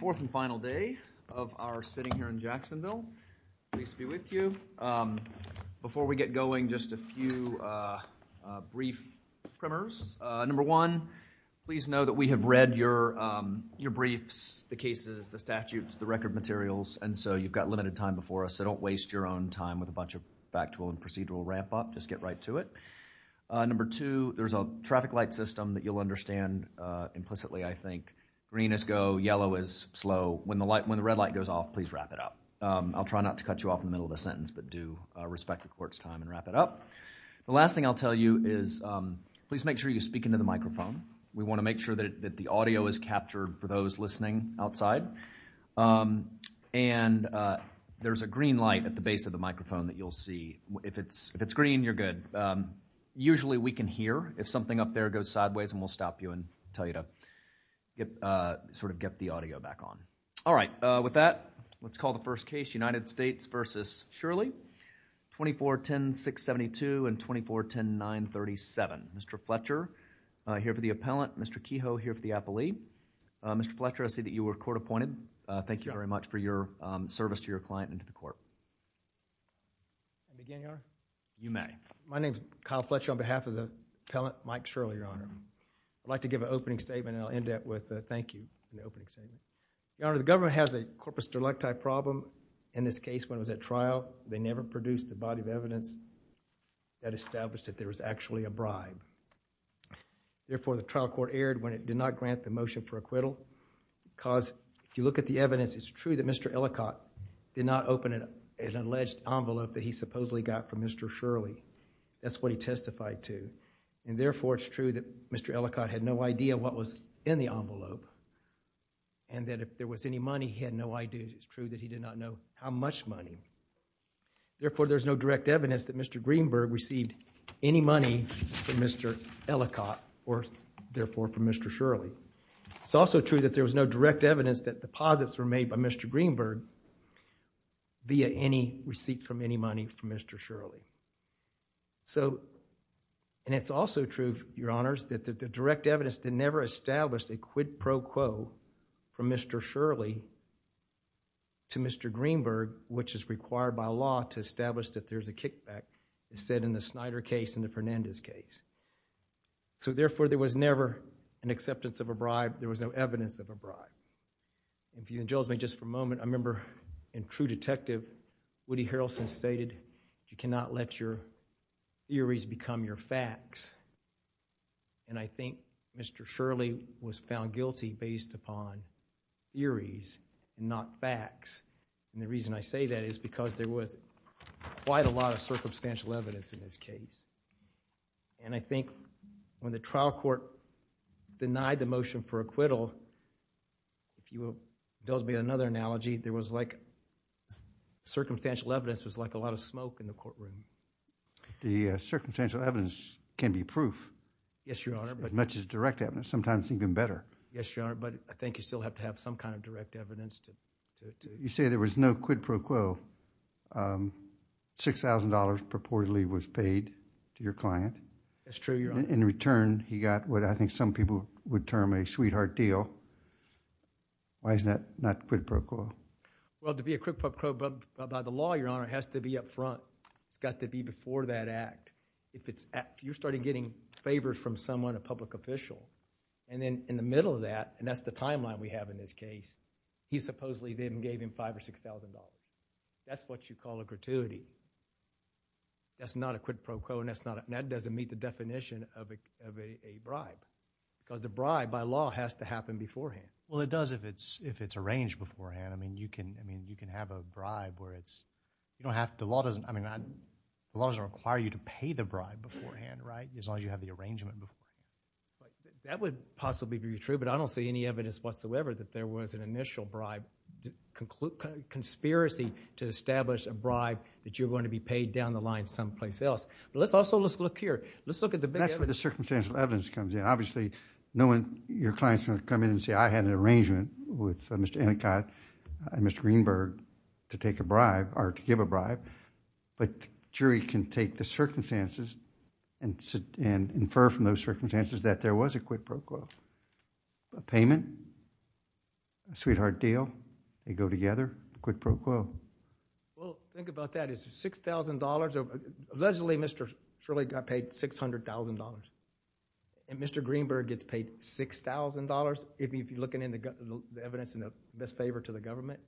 Fourth and final day of our sitting here in Jacksonville. Pleased to be with you. Before we get going, just a few brief primers. Number one, please know that we have read your briefs, the cases, the statutes, the record materials, and so you've got limited time before us, so don't waste your own time with a bunch of factual and procedural ramp up. Just get right to it. Number two, there's a traffic light system that you'll understand implicitly, I think. Green is go, yellow is slow. When the red light goes off, please wrap it up. I'll try not to cut you off in the middle of the sentence, but do respect the court's time and wrap it up. The last thing I'll tell you is please make sure you speak into the microphone. We want to make sure that the audio is captured for those listening outside. And there's a green light at the base of the microphone that you'll see. If it's green, you're good. Usually we can hear if something up there goes sideways, and we'll stop you and tell you to sort of get the audio back on. All right. With that, let's call the first case, United States v. Shirley, 24-10-672 and 24-10-937. Mr. Fletcher here for the appellant, Mr. Kehoe here for the appellee. Mr. Fletcher, I see that you were court appointed. Thank you very much for your service to your client and to the court. Can I begin, Your Honor? You may. My name is Kyle Fletcher on behalf of the appellant, Mike Shirley, Your Honor. I'd like to give an opening statement, and I'll end up with a thank you for the opening statement. Your Honor, the government has a corpus delicti problem in this case when it was at trial. They never produced the body of evidence that established that there was actually a bribe. Therefore, the trial court erred when it did not grant the motion for acquittal because if you look at the evidence, it's true that Mr. Ellicott did not open an alleged envelope that he supposedly got from Mr. Shirley. That's what he testified to. And therefore, it's true that Mr. Ellicott had no idea what was in the envelope and that if there was any money, he had no idea. It's true that he did not know how much money. Therefore, there's no direct evidence that Mr. Greenberg received any money from Mr. Ellicott or therefore from Mr. Shirley. It's also true that there was no direct evidence that deposits were made by Mr. Greenberg via any receipts from any money from Mr. Shirley. And it's also true, Your Honors, that the direct evidence that never established a quid pro quo from Mr. Shirley to Mr. Greenberg, which is required by law to establish that there's a kickback, is said in the Snyder case and the Fernandez case. So therefore, there was never an acceptance of a bribe. There was no evidence of a bribe. If you indulge me just for a moment, I remember in true detective, Woody Harrelson stated, you cannot let your theories become your facts. And I think Mr. Shirley was found guilty based upon theories, not facts. And the reason I say that is because there was quite a lot of circumstantial evidence in this case. And I think when the trial court denied the motion for acquittal, if you will indulge me another analogy, there was like circumstantial evidence was like a lot of smoke in the courtroom. The circumstantial evidence can be proof. Yes, Your Honor. As much as direct evidence, sometimes even better. Yes, Your Honor, but I think you still have to have some kind of direct evidence. You say there was no quid pro quo. $6,000 purportedly was paid to your client. That's true, Your Honor. In return, he got what I think some people would term a sweetheart deal. Why is that not quid pro quo? Well, to be a quid pro quo by the law, Your Honor, it has to be up front. It's got to be before that act. If you're starting getting favors from someone, a public official, and then in the middle of that, and that's the timeline we have in this case, he supposedly then gave him $5,000 or $6,000. That's what you call a gratuity. That's not a quid pro quo, and that doesn't meet the definition of a bribe because a bribe by law has to happen beforehand. Well, it does if it's arranged beforehand. I mean, you can have a bribe where it's, you don't have to, the law doesn't, I mean, the law doesn't require you to pay the bribe beforehand, right? As long as you have the arrangement beforehand. That would possibly be true, but I don't see any evidence whatsoever that there was an initial bribe, a conspiracy to establish a bribe that you're going to be paid down the line someplace else. But let's also, let's look here. Let's look at the big evidence. That's where the circumstantial evidence comes in. Obviously, no one, your clients are going to come in and say, I had an arrangement with Mr. Ennicott and Mr. Greenberg to take a bribe or to give a bribe, but jury can take the circumstances and infer from those circumstances that there was a quid pro quo. A payment, a sweetheart deal, they go together, quid pro quo. Well, think about that. It's $6,000, allegedly, Mr. Shirley got paid $600,000, and Mr. Greenberg gets paid $6,000. If you're looking at the evidence in the best favor to the government,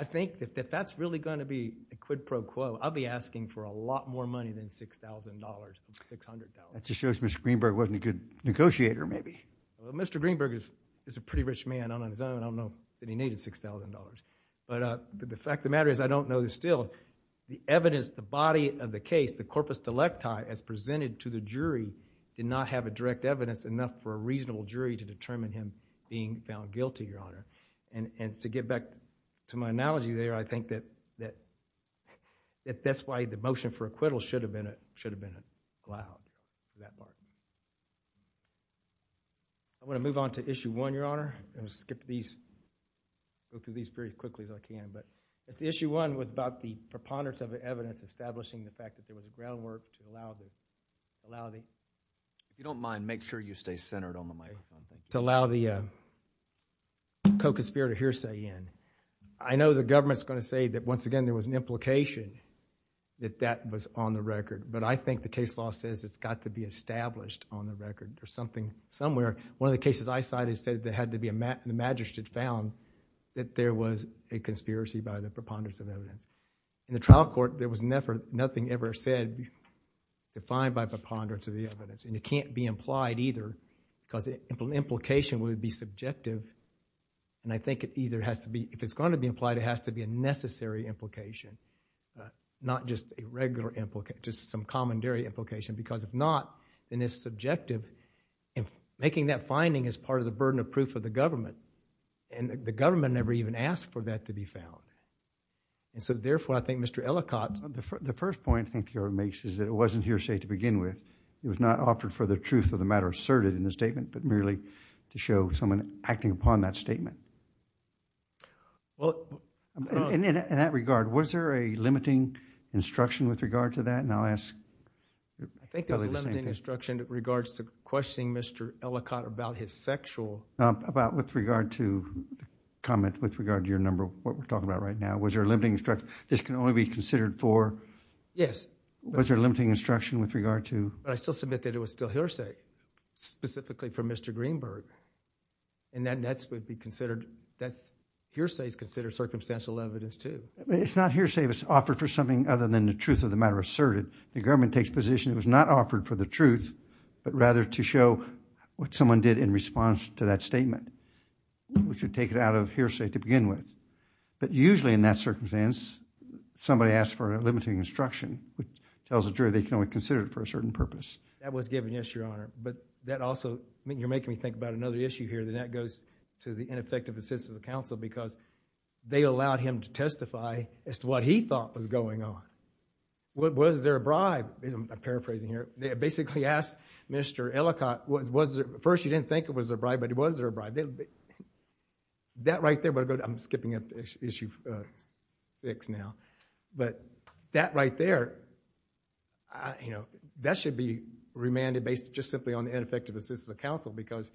I think that if that's really going to be a quid pro quo, I'll be asking for a lot more money than $6,000, $600. That just shows Mr. Greenberg wasn't a good negotiator, maybe. Mr. Greenberg is a pretty rich man on his own. I don't know that he needed $6,000. But the fact of the matter is, I don't know that still, the evidence, the body of the case, the corpus delecti as presented to the jury did not have a direct evidence enough for a reasonable jury to determine him being found guilty, Your Honor. And to get back to my analogy there, I think that that's why the motion for acquittal should have been a cloud. I want to move on to issue one, Your Honor. I'm going to skip these, go through these very quickly as I can. But issue one was about the preponderance of the evidence establishing the fact that there was a groundwork to allow the, allow the. If you don't mind, make sure you stay centered on the mic. To allow the co-conspirator hearsay in. I know the government's going to say that, once again, there was an implication that that was on the record. But I think the case law says it's got to be established on the record. There's something somewhere. One of the cases I cited said there had to be a, the magistrate found that there was a conspiracy by the preponderance of evidence. In the trial court, there was never, nothing ever said defined by preponderance of the evidence. And it can't be implied either because the implication would be subjective. And I think it either has to be, if it's going to be implied, it has to be a necessary implication. Not just a regular implication, just some common dairy implication. Because if not, then it's subjective. And making that finding is part of the burden of proof of the government. And the government never even asked for that to be found. And so therefore, I think Mr. Ellicott. The first point I think you're making is that it wasn't hearsay to begin with. It was not offered for the truth of the matter asserted in the statement, but merely to show someone acting upon that statement. Well, in that regard, was there a limiting instruction with regard to that? And I'll ask probably the same thing. I think there was a limiting instruction in regards to questioning Mr. Ellicott about his sexual... About with regard to, comment with regard to your number, what we're talking about right now. Was there a limiting instruction? This can only be considered for... Yes. Was there a limiting instruction with regard to... But I still submit that it was still hearsay, specifically from Mr. Greenberg. And that would be considered, hearsay is considered circumstantial evidence too. It's not hearsay if it's offered for something other than the truth of the matter asserted. The government takes position it was not offered for the truth, but rather to show what someone did in response to that statement, which would take it out of hearsay to begin with. But usually in that circumstance, somebody asks for a limiting instruction, which tells the jury they can only consider it for a certain purpose. That was given, yes, your honor. But that also, I mean, you're making me think about another issue here, and that goes to the ineffective assistance of counsel because they allowed him to testify as to what he thought was going on. Was there a bribe? I'm paraphrasing here. They basically asked Mr. Ellicott, was there... First, you didn't think it was a bribe, but was there a bribe? That right there, but I'm skipping up to issue six now. But that right there, you know, that should be remanded based just simply on the ineffective assistance of counsel because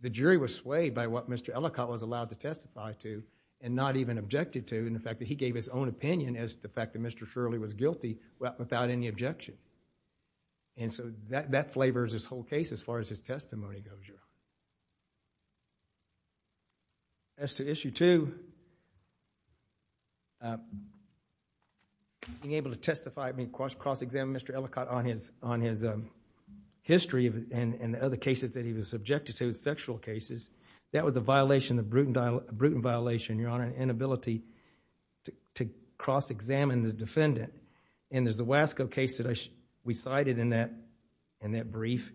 the jury was swayed by what Mr. Ellicott was allowed to testify to and not even objected to in the fact that he gave his own opinion as to the fact that Mr. Shirley was guilty without any objection. And so that flavors this whole case as far as his testimony goes here. As to issue two, being able to testify, I mean, cross-examine Mr. Ellicott on his history and the other cases that he was subjected to, sexual cases. That was a violation, a brutal violation, your honor, an inability to cross-examine the defendant. And there's the Wasco case that we cited in that brief.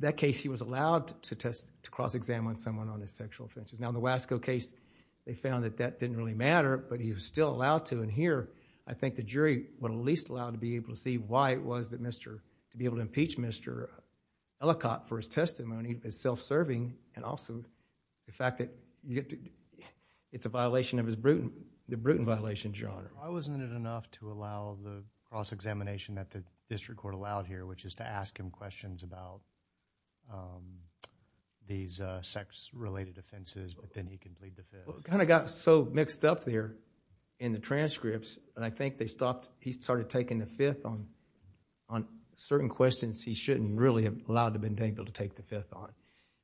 That case, he was allowed to cross-examine someone on his sexual offenses. Now, the Wasco case, they found that that didn't really matter, but he was still allowed to. And here, I think the jury were at least allowed to be able to see why it was to be able to impeach Mr. Ellicott for his testimony, his self-serving, and also the fact that it's a violation of the Bruton violation, Why wasn't it enough to allow the cross-examination that the district court allowed here, which is to ask him questions about these sex-related offenses, but then he can plead the fifth? Well, it kind of got so mixed up there in the transcripts, and I think they stopped, he started taking the fifth on certain questions he shouldn't really have allowed to have been able to take the fifth on.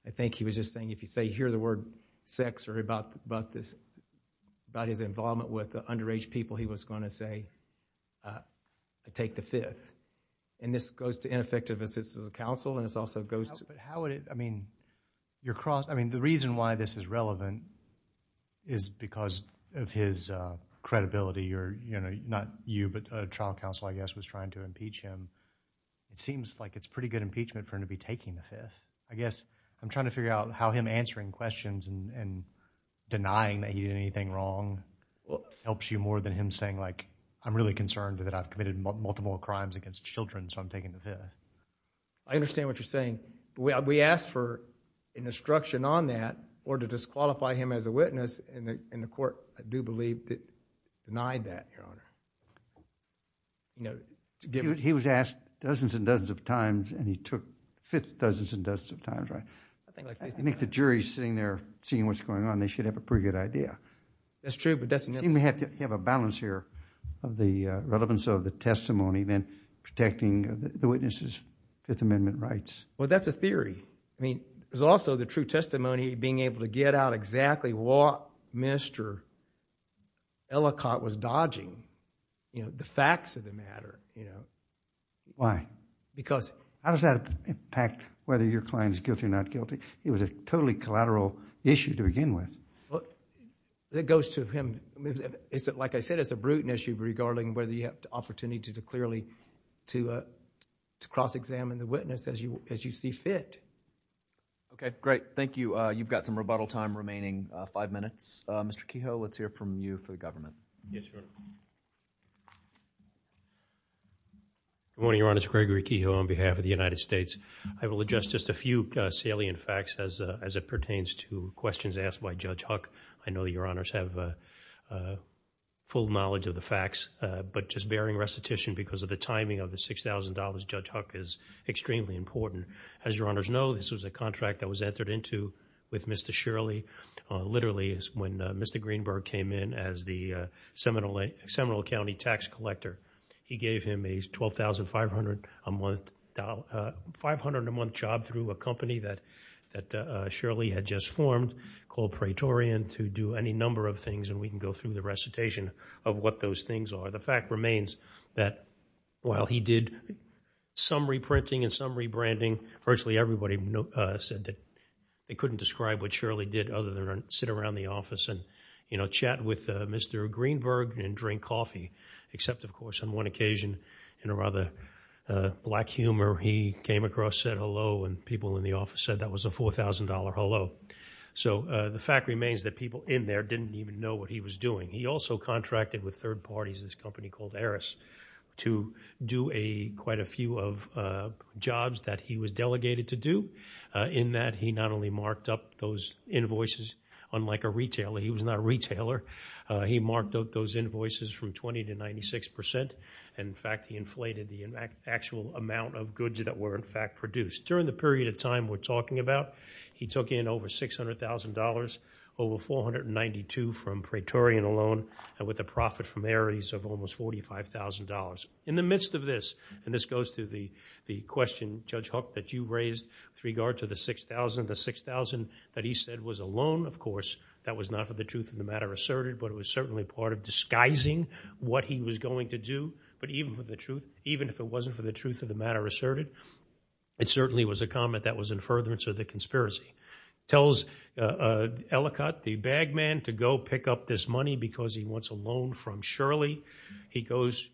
I think he was just saying, if you say, hear the word sex, or about this, about his involvement with the underage people, he was going to say, take the fifth. And this goes to ineffective assistance of counsel, and it also goes to- But how would it, I mean, your cross, I mean, the reason why this is relevant is because of his credibility, or, you know, not you, but a trial counsel, I guess, was trying to impeach him. It seems like it's pretty good impeachment for him to be taking the fifth. I guess I'm trying to figure out how him answering questions and denying that he did anything wrong helps you more than him saying, like, I'm really concerned that I've committed multiple crimes against children, so I'm taking the fifth. I understand what you're saying, but we asked for an instruction on that, or to disqualify him as a witness, and the court, I do believe, denied that, Your Honor. You know, to give- He was asked dozens and dozens of times, and he took fifth dozens and dozens of times, right? I think the jury's sitting there seeing what's going on. They should have a pretty good idea. That's true, but that's- You may have to have a balance here of the relevance of the testimony, then protecting the witness's Fifth Amendment rights. Well, that's a theory. I mean, there's also the true testimony, being able to get out exactly what Mr. Ellicott was dodging, you know, the facts of the matter, you know. Why? Because- How does that impact whether your client is guilty or not guilty? It was a totally collateral issue to begin with. It goes to him. Like I said, it's a brutal issue regarding whether you have the opportunity to clearly to cross-examine the witness as you see fit. Okay, great. Thank you. You've got some rebuttal time remaining, five minutes. Mr. Kehoe, let's hear from you for the government. Yes, Your Honor. Good morning, Your Honors. Gregory Kehoe on behalf of the United States. I will address just a few salient facts as it pertains to questions asked by Judge Huck. I know Your Honors have full knowledge of the facts, but just bearing recitation because of the timing of the $6,000, Judge Huck is extremely important. As Your Honors know, this was a contract that was entered into with Mr. Shirley literally when Mr. Greenberg came in as the Seminole County tax collector. He gave him a $12,500 a month job through a company that Shirley had just formed called Praetorian to do any number of things and we can go through the recitation of what those things are. The fact remains that while he did some reprinting and some rebranding, virtually everybody said that they couldn't describe what Shirley did other than sit around the office and chat with Mr. Greenberg and drink coffee, except of course on one occasion in a rather black humor, he came across, said hello and people in the office said that was a $4,000 hello. The fact remains that people in there didn't even know what he was doing. He also contracted with third parties, this company called Aris, to do quite a few of jobs that he was delegated to do in that he not only marked up those invoices, unlike a retailer, he was not a retailer, he marked out those invoices from 20 to 96%. In fact, he inflated the actual amount of goods that were in fact produced. During the period of time we're talking about, he took in over $600,000, over $492,000 from Praetorian alone, with a profit from Aris of almost $45,000. In the midst of this, and this goes to the question, Judge Hook, that you raised with regard to the $6,000, the $6,000 that he said was a loan, of course, that was not for the truth of the matter asserted, but it was certainly part of disguising what he was going to do, but even if it wasn't for the truth of the matter asserted, it certainly was a comment that was in furtherance of the conspiracy. Tells Ellicott, the bag man, to go pick up this money because he wants a loan from Shirley.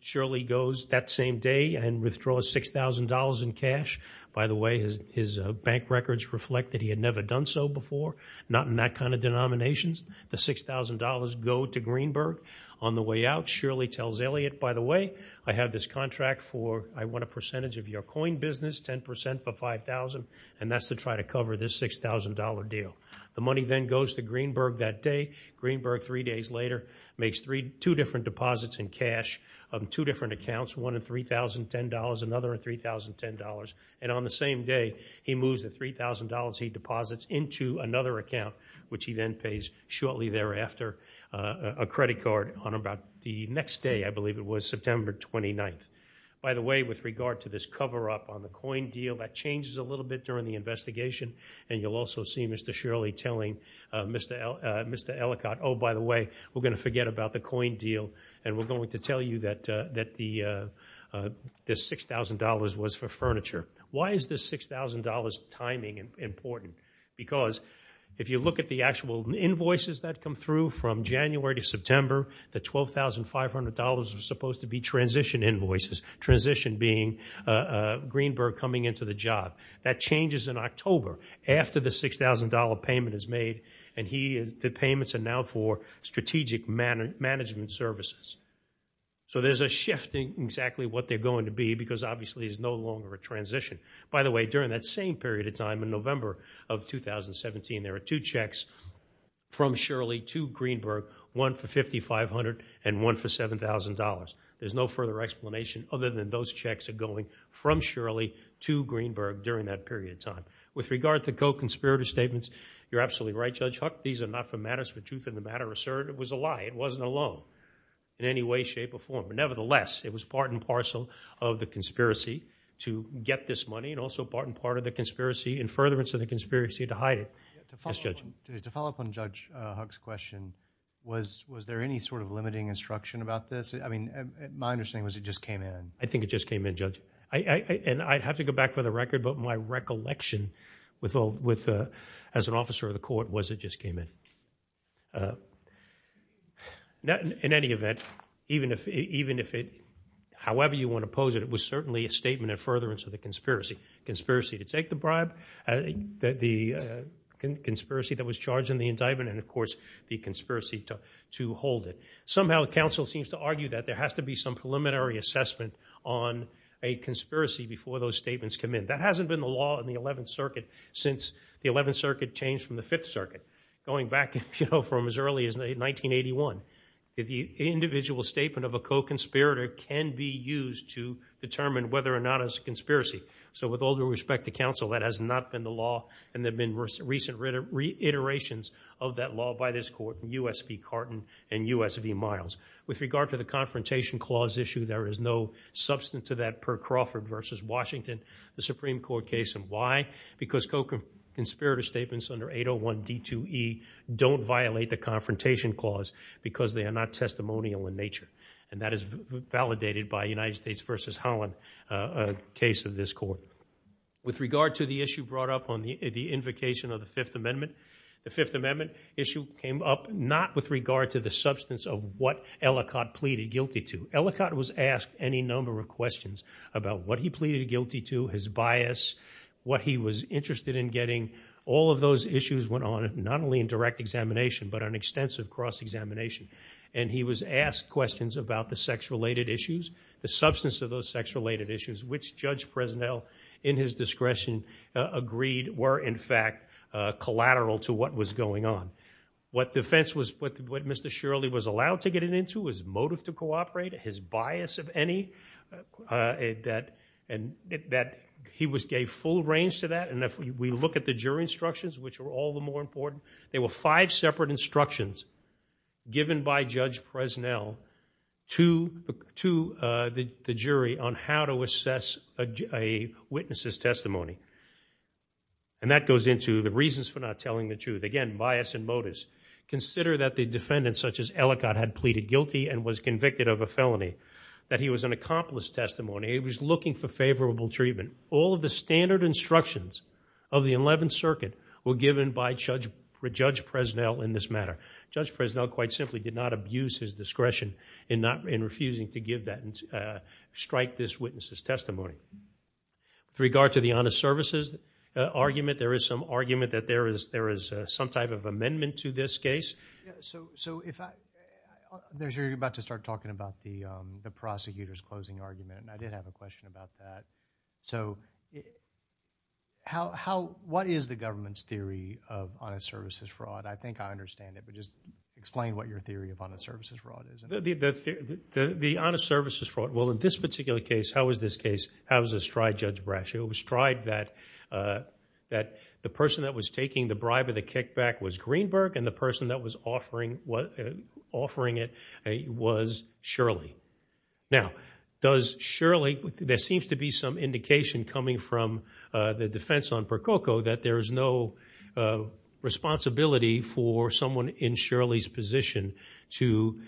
Shirley goes that same day and withdraws $6,000 in cash. By the way, his bank records reflect that he had never done so before, not in that kind of denominations. The $6,000 go to Greenberg. On the way out, Shirley tells Elliot, by the way, I have this contract for, I want a percentage of your coin business, 10% for 5,000, and that's to try to cover this $6,000 deal. The money then goes to Greenberg that day. Greenberg, three days later, makes two different deposits in cash, two different accounts, one at $3,010, another at $3,010, and on the same day, he moves the $3,000 he deposits into another account, which he then pays shortly thereafter a credit card on about the next day, I believe it was, September 29th. By the way, with regard to this cover-up on the coin deal, that changes a little bit during the investigation, and you'll also see Mr. Shirley telling Mr. Ellicott, oh, by the way, we're going to forget about the coin deal, and we're going to tell you that this $6,000 was for furniture. Why is this $6,000 timing important? Because if you look at the actual invoices that come through from January to September, the $12,500 are supposed to be transition invoices, transition being Greenberg coming into the job. That changes in October after the $6,000 payment is made, and the payments are now for strategic management services. So there's a shift in exactly what they're going to be because obviously it's no longer a transition. By the way, during that same period of time in November of 2017, there are two checks from Shirley to Greenberg, one for $5,500 and one for $7,000. There's no further explanation other than those checks are going from Shirley to Greenberg during that period of time. With regard to co-conspirator statements, you're absolutely right, Judge Huck. These are not for matters for truth in the matter asserted. It was a lie. It wasn't a loan in any way, shape, or form. Nevertheless, it was part and parcel of the conspiracy to get this money and also part and part of the conspiracy and furtherance of the conspiracy to hide it. Yes, Judge? To follow up on Judge Huck's question, was there any sort of limiting instruction about this? My understanding was it just came in. I think it just came in, Judge. And I'd have to go back for the record, but my recollection as an officer of the court was it just came in. In any event, however you want to pose it, it was certainly a statement of furtherance of the conspiracy. Conspiracy to take the bribe, the conspiracy that was charged in the indictment, and of course, the conspiracy to hold it. Somehow, counsel seems to argue that there has to be some preliminary assessment on a conspiracy before those statements come in. That hasn't been the law in the 11th Circuit since the 11th Circuit changed from the 5th Circuit, going back from as early as 1981. The individual statement of a co-conspirator can be used to determine whether or not it's a conspiracy. So with all due respect to counsel, that has not been the law, and there have been recent reiterations of that law by this court, U.S. v. Carton and U.S. v. Miles. With regard to the Confrontation Clause issue, there is no substance to that per Crawford v. Washington, the Supreme Court case. And why? Because co-conspirator statements under 801 D2E don't violate the Confrontation Clause because they are not testimonial in nature. And that is validated by United States v. Holland, a case of this court. With regard to the issue brought up on the invocation of the Fifth Amendment, the Fifth Amendment issue came up not with regard to the substance of what Ellicott pleaded guilty to. Ellicott was asked any number of questions about what he pleaded guilty to, his bias, what he was interested in getting. All of those issues went on, not only in direct examination, but on extensive cross-examination. And he was asked questions about the sex-related issues, the substance of those sex-related issues, which Judge Presnell, in his discretion, agreed were, in fact, collateral to what was going on. What defense was, what Mr. Shirley was allowed to get it into, his motive to cooperate, his bias of any, that he gave full range to that. And if we look at the jury instructions, which are all the more important, there were five separate instructions given by Judge Presnell to the jury on how to assess a witness's testimony. And that goes into the reasons for not telling the truth. Again, bias and motives. Consider that the defendant, such as Ellicott, had pleaded guilty and was convicted of a felony, that he was an accomplice testimony, he was looking for favorable treatment. All of the standard instructions of the Eleventh Circuit were given by Judge Presnell in this matter. Judge Presnell, quite simply, did not abuse his discretion in refusing to give that, strike this witness's testimony. With regard to the honest services argument, there is some argument that there is, there is some type of amendment to this case. Yeah, so, so if I, there's, you're about to start talking about the, the prosecutor's closing argument, and I did have a question about that. So, how, how, what is the government's theory of honest services fraud? I think I understand it, but just explain what your theory of honest services fraud is. The, the honest services fraud, well, in this particular case, how is this case, how is this tried, Judge Brash? It was tried that, that the person that was taking the bribe or the kickback was Greenberg, and the person that was offering, offering it was Shirley. Now, does Shirley, there seems to be some indication coming from the defense on Percoco that there is no responsibility for someone in Shirley's position to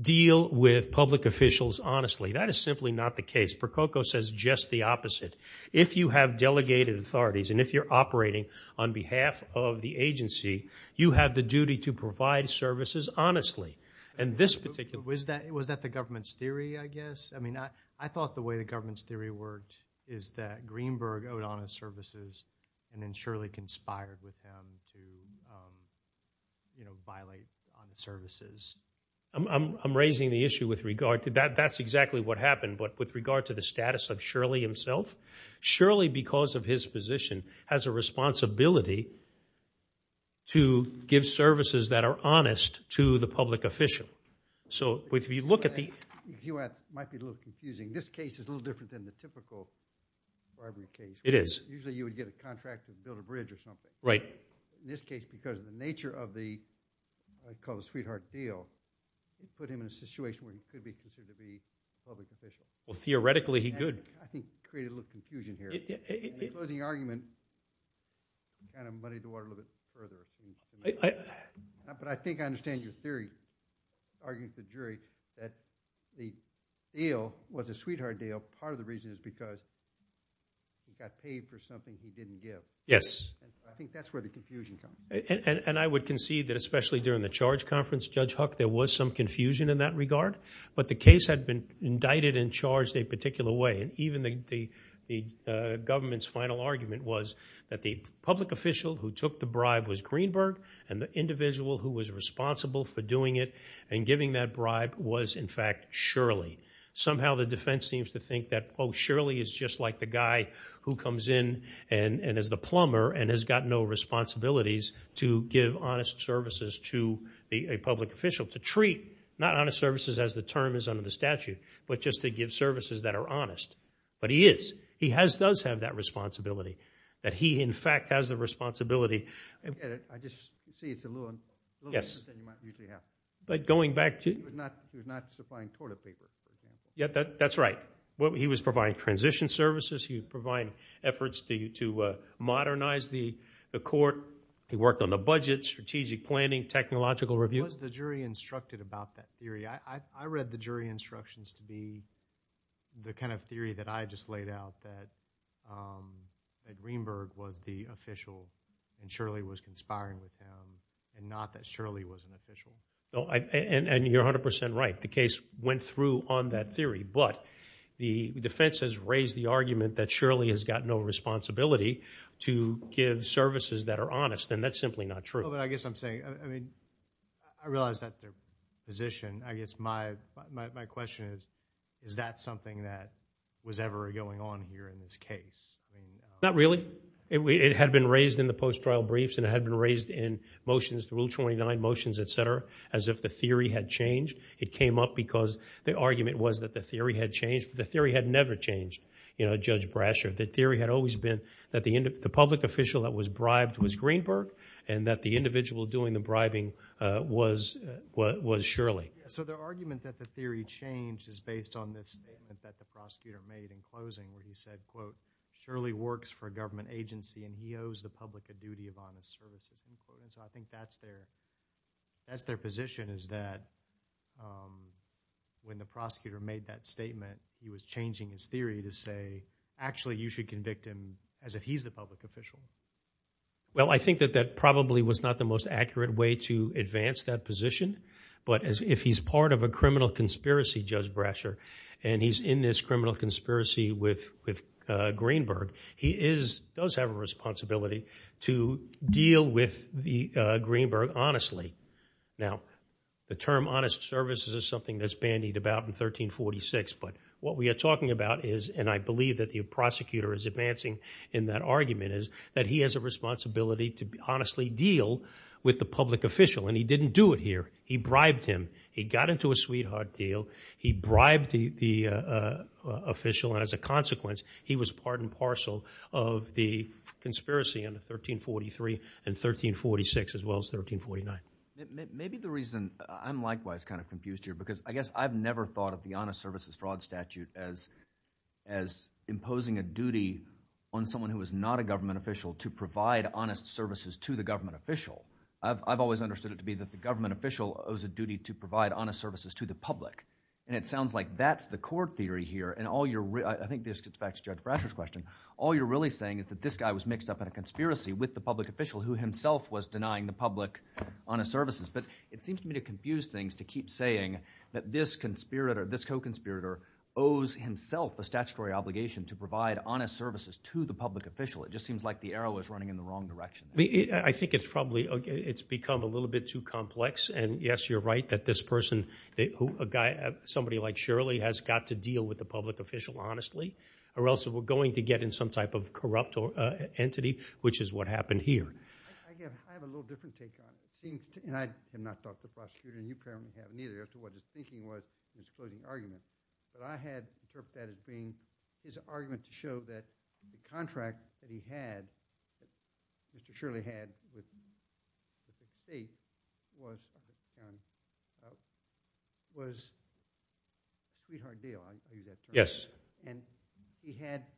deal with public officials honestly. That is simply not the case. Percoco says just the opposite. If you have delegated authorities, and if you're operating on behalf of the agency, you have the duty to provide services honestly. And this particular... Was that, was that the government's theory, I guess? I mean, I, I thought the way the government's theory worked is that Greenberg owed honest services and then Shirley conspired with him to, you know, violate honest services. I'm, I'm raising the issue with regard to that. That's exactly what happened. But with regard to the status of Shirley himself, Shirley, because of his position, has a responsibility to give services that are honest to the public official. So if you look at the... You know what, it might be a little confusing. This case is a little different than the typical bribery case. It is. Usually you would get a contract to build a bridge or something. Right. In this case, because of the nature of the, I'd call it a sweetheart deal, it put him in a situation where he could be considered to be a public official. Well, theoretically, he could. I think it created a little confusion here. Yeah, yeah. And the closing argument kind of muddied the water a little bit further. But I think I understand your theory, arguing to the jury, that the deal was a sweetheart deal. Part of the reason is because he got paid for something he didn't give. Yes. I think that's where the confusion comes. And I would concede that, especially during the charge conference, Judge Huck, there was some confusion in that regard. But the case had been indicted and charged a particular way. And even the government's final argument was that the public official who took the bribe was Greenberg and the individual who was responsible for doing it and giving that bribe was, in fact, Shirley. Somehow the defense seems to think that, oh, Shirley is just like the guy who comes in and is the plumber and has got no responsibilities to give honest services to a public official. To treat, not honest services as the term is under the statute, but just to give services that are honest. But he is. He does have that responsibility. That he, in fact, has the responsibility. I get it. I just see it's a little different than you might usually have. But going back to... He was not supplying toilet paper. That's right. He was providing transition services. He was providing efforts to modernize the court. He worked on the budget, strategic planning, technological review. Was the jury instructed about that theory? I read the jury instructions to be the kind of theory that I just laid out, that Greenberg was the official and Shirley was conspiring with him and not that Shirley was an official. No, and you're 100% right. The case went through on that theory. But the defense has raised the argument that Shirley has got no responsibility to give services that are honest. And that's simply not true. Well, but I guess I'm saying... I mean, I realize that's their position. I guess my question is, is that something that was ever going on here in this case? I mean... Not really. It had been raised in the post-trial briefs and it had been raised in motions, the Rule 29 motions, et cetera, as if the theory had changed. It came up because the argument was that the theory had changed. But the theory had never changed, you know, Judge Brasher. The theory had always been that the public official that was bribed was Greenberg and that the individual doing the bribing was Shirley. So their argument that the theory changed is based on this statement that the prosecutor made in closing, where he said, quote, Shirley works for a government agency and he owes the public a duty of honest services. So I think that's their position, is that when the prosecutor made that statement, he was changing his theory to say, actually, you should convict him as if he's the public official. Well, I think that that probably was not the most accurate way to advance that position. But if he's part of a criminal conspiracy, Judge Brasher, and he's in this criminal conspiracy with Greenberg, he does have a responsibility to deal with Greenberg honestly. Now, the term honest services is something that's bandied about in 1346. But what we are talking about is, and I believe that the prosecutor is advancing in that argument, that he has a responsibility to honestly deal with the public official. And he didn't do it here. He bribed him. He got into a sweetheart deal. He bribed the official. And as a consequence, he was part and parcel of the conspiracy under 1343 and 1346, as well as 1349. Maybe the reason I'm likewise kind of confused here, because I guess I've never thought of the honest services fraud statute as imposing a duty on someone who is not a government official to provide honest services to the government official. I've always understood it to be that the government official owes a duty to provide honest services to the public. And it sounds like that's the core theory here. And I think this gets back to Judge Brasher's question. All you're really saying is that this guy was mixed up in a conspiracy with the public official who himself was denying the public honest services. But it seems to me to confuse things to keep saying that this conspirator, this co-conspirator owes himself a statutory obligation to provide honest services to the public official. It just seems like the arrow is running in the wrong direction. I mean, I think it's probably, it's become a little bit too complex. And yes, you're right that this person, a guy, somebody like Shirley has got to deal with the public official honestly, or else we're going to get in some type of corrupt entity, which is what happened here. I have a little different take on it. It seems, and I have not talked to the prosecutor, and you apparently have neither, as to what his thinking was in his closing argument. But I had interpreted that as being his argument to show that the contract that he had, that Mr. Shirley had with the state was a sweetheart deal, I'll use that term. And he had to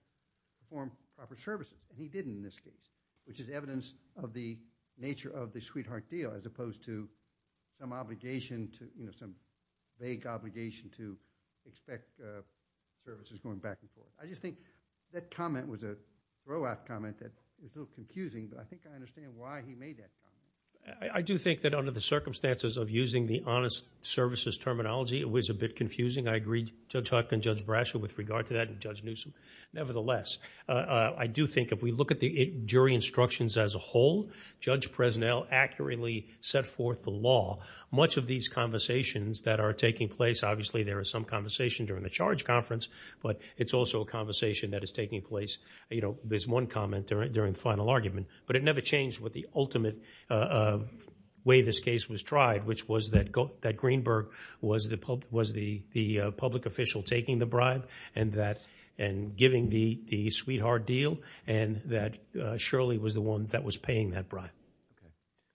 perform proper services, and he didn't in this case, which is evidence of the nature of the sweetheart deal, as opposed to some obligation to, some vague obligation to expect services going back and forth. I just think that comment was a throwout comment that was a little confusing, but I think I understand why he made that comment. I do think that under the circumstances of using the honest services terminology, it was a bit confusing. I agree, Judge Huck and Judge Brasher with regard to that, and Judge Newsom. Nevertheless, I do think if we look at the jury instructions as a whole, Judge Presnell accurately set forth the law. Much of these conversations that are taking place, obviously there is some conversation during the charge conference, but it's also a conversation that is taking place, you know, there's one comment during the final argument, but it never changed what the ultimate way this case was tried, which was that Greenberg was the public official taking the bribe and giving the sweetheart deal, and that Shirley was the one that was paying that bribe.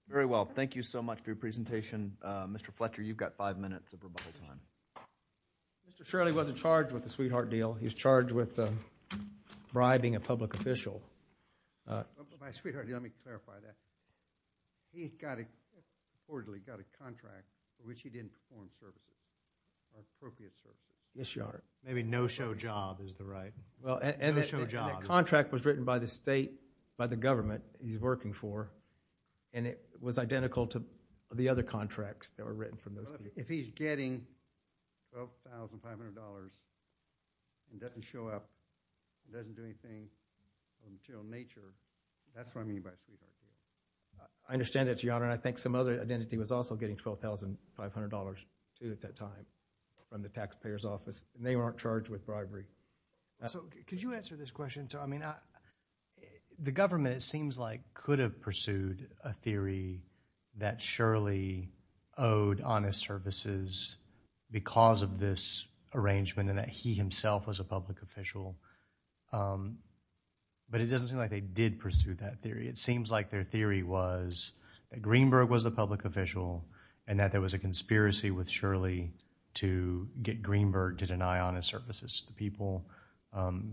Very well. Thank you so much for your presentation. Mr. Fletcher, you've got five minutes of rebuttal time. Mr. Shirley wasn't charged with the sweetheart deal. He was charged with bribing a public official. By sweetheart deal, let me clarify that. He got a contract for which he didn't perform services, appropriate services. Yes, Your Honor. Maybe no-show job is the right, no-show job. The contract was written by the state, by the government he's working for, and it was identical to the other contracts that were written from those people. If he's getting $12,500 and doesn't show up, doesn't do anything of a material nature, that's what I mean by sweetheart deal. I understand that, Your Honor, and I think some other identity was also getting $12,500 too at that time from the taxpayer's office, and they weren't charged with bribery. So could you answer this question, sir? I mean, the government, it seems like, could have pursued a theory that Shirley owed honest services because of this arrangement and that he himself was a public official, but it doesn't seem like they did pursue that theory. It seems like their theory was that Greenberg was the public official and that there was a conspiracy with Shirley to get Greenberg to deny honest services to the people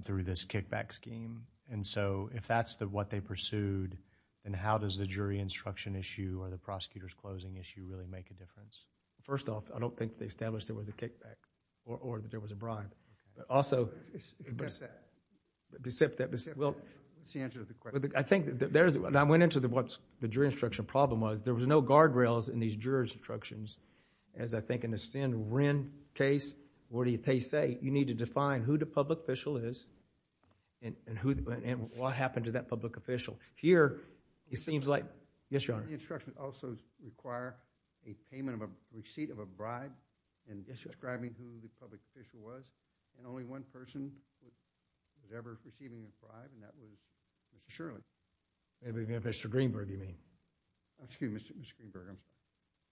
through this kickback scheme. And so, if that's what they pursued, then how does the jury instruction issue or the prosecutor's closing issue really make a difference? First off, I don't think they established there was a kickback or that there was a bribe, but also, except that, well, I think that there's, and I went into what the jury instruction problem was, there was no guardrails in these jury instructions as I think in the Sen. Wren case, where they say, you need to define who the public official is and what happened to that public official. Here, it seems like, yes, your honor. The instruction also require a payment of a receipt of a bribe and describing who the public official was and only one person was ever receiving a bribe and that was Mr. Shirley. Maybe Mr. Greenberg, you mean. Excuse me, Mr. Greenberg, I'm sorry.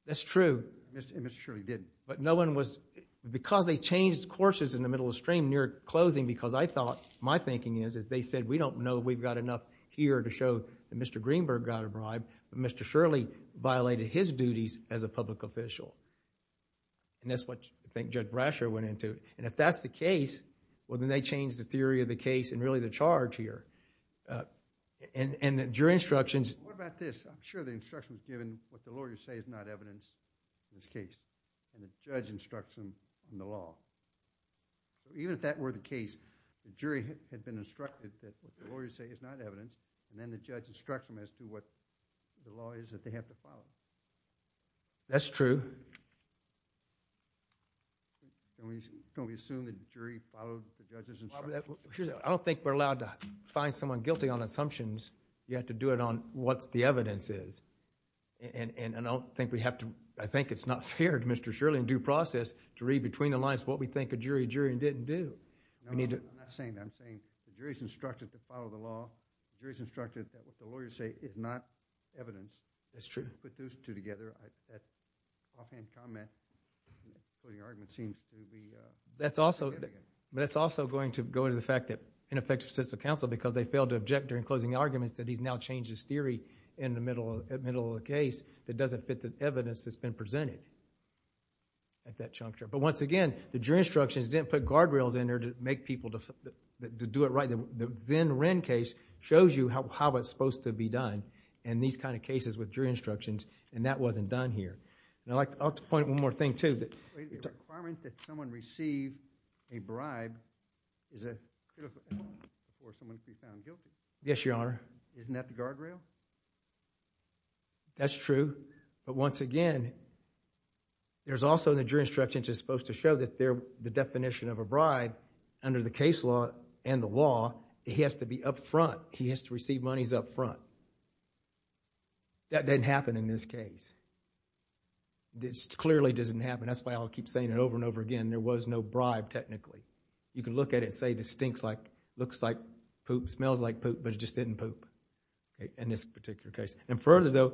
That's true. And Mr. Shirley did. But no one was, because they changed courses in the middle of the stream near closing because I thought, my thinking is, is they said we don't know we've got enough here to show that Mr. Greenberg got a bribe, but Mr. Shirley violated his duties as a public official. And that's what I think Judge Brasher went into. And if that's the case, well, then they changed the theory of the case and really the charge here. And the jury instructions. What about this? I'm sure the instruction was given what the lawyers say is not evidence in this case and the judge instructs them in the law. So even if that were the case, the jury had been instructed that what the lawyers say is not evidence and then the judge instructs them as to what the law is that they have to follow. That's true. And we assume that the jury followed the judge's instruction. Well, I don't think we're allowed to find someone guilty on assumptions. You have to do it on what the evidence is. And I don't think we have to, I think it's not fair to Mr. Shirley in due process to read between the lines what we think a jury did and didn't do. No, I'm not saying that. I'm saying the jury's instructed to follow the law. The jury's instructed that what the lawyers say is not evidence. That's true. To put those two together, offhand comment, putting argument seems to be... But it's also going to go to the fact that ineffective sets of counsel because they failed to object during closing arguments that he's now changed his theory in the middle of the case that doesn't fit the evidence that's been presented at that juncture. But once again, the jury instructions didn't put guardrails in there to make people to do it right. The Zinn-Wren case shows you how it's supposed to be done in these kind of cases with jury instructions and that wasn't done here. And I'd like to point out one more thing too. The requirement that someone receive a bribe is a beautiful thing before someone can be found guilty. Yes, Your Honor. Isn't that the guardrail? That's true. But once again, there's also the jury instructions is supposed to show that the definition of a bribe under the case law and the law, he has to be up front. He has to receive monies up front. That didn't happen in this case. This clearly doesn't happen. That's why I'll keep saying it over and over again. There was no bribe technically. You can look at it and say this stinks like, looks like poop, smells like poop, but it just didn't poop in this particular case. And further though,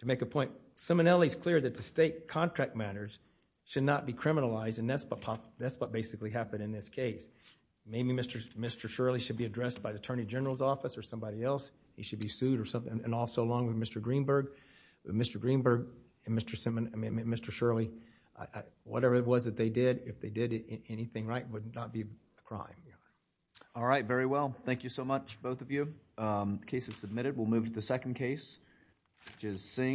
to make a point, Simonelli's clear that the state contract matters should not be criminalized and that's what basically happened in this case. Maybe Mr. Shirley should be addressed by the Attorney General's office or somebody else. He should be sued or something. And also along with Mr. Greenberg, Mr. Greenberg and Mr. Shirley, whatever it was that they did, if they did anything right, it would not be a crime. Your Honor. All right, very well. Thank you so much, both of you. The case is submitted. We'll move to the second case. Just saying.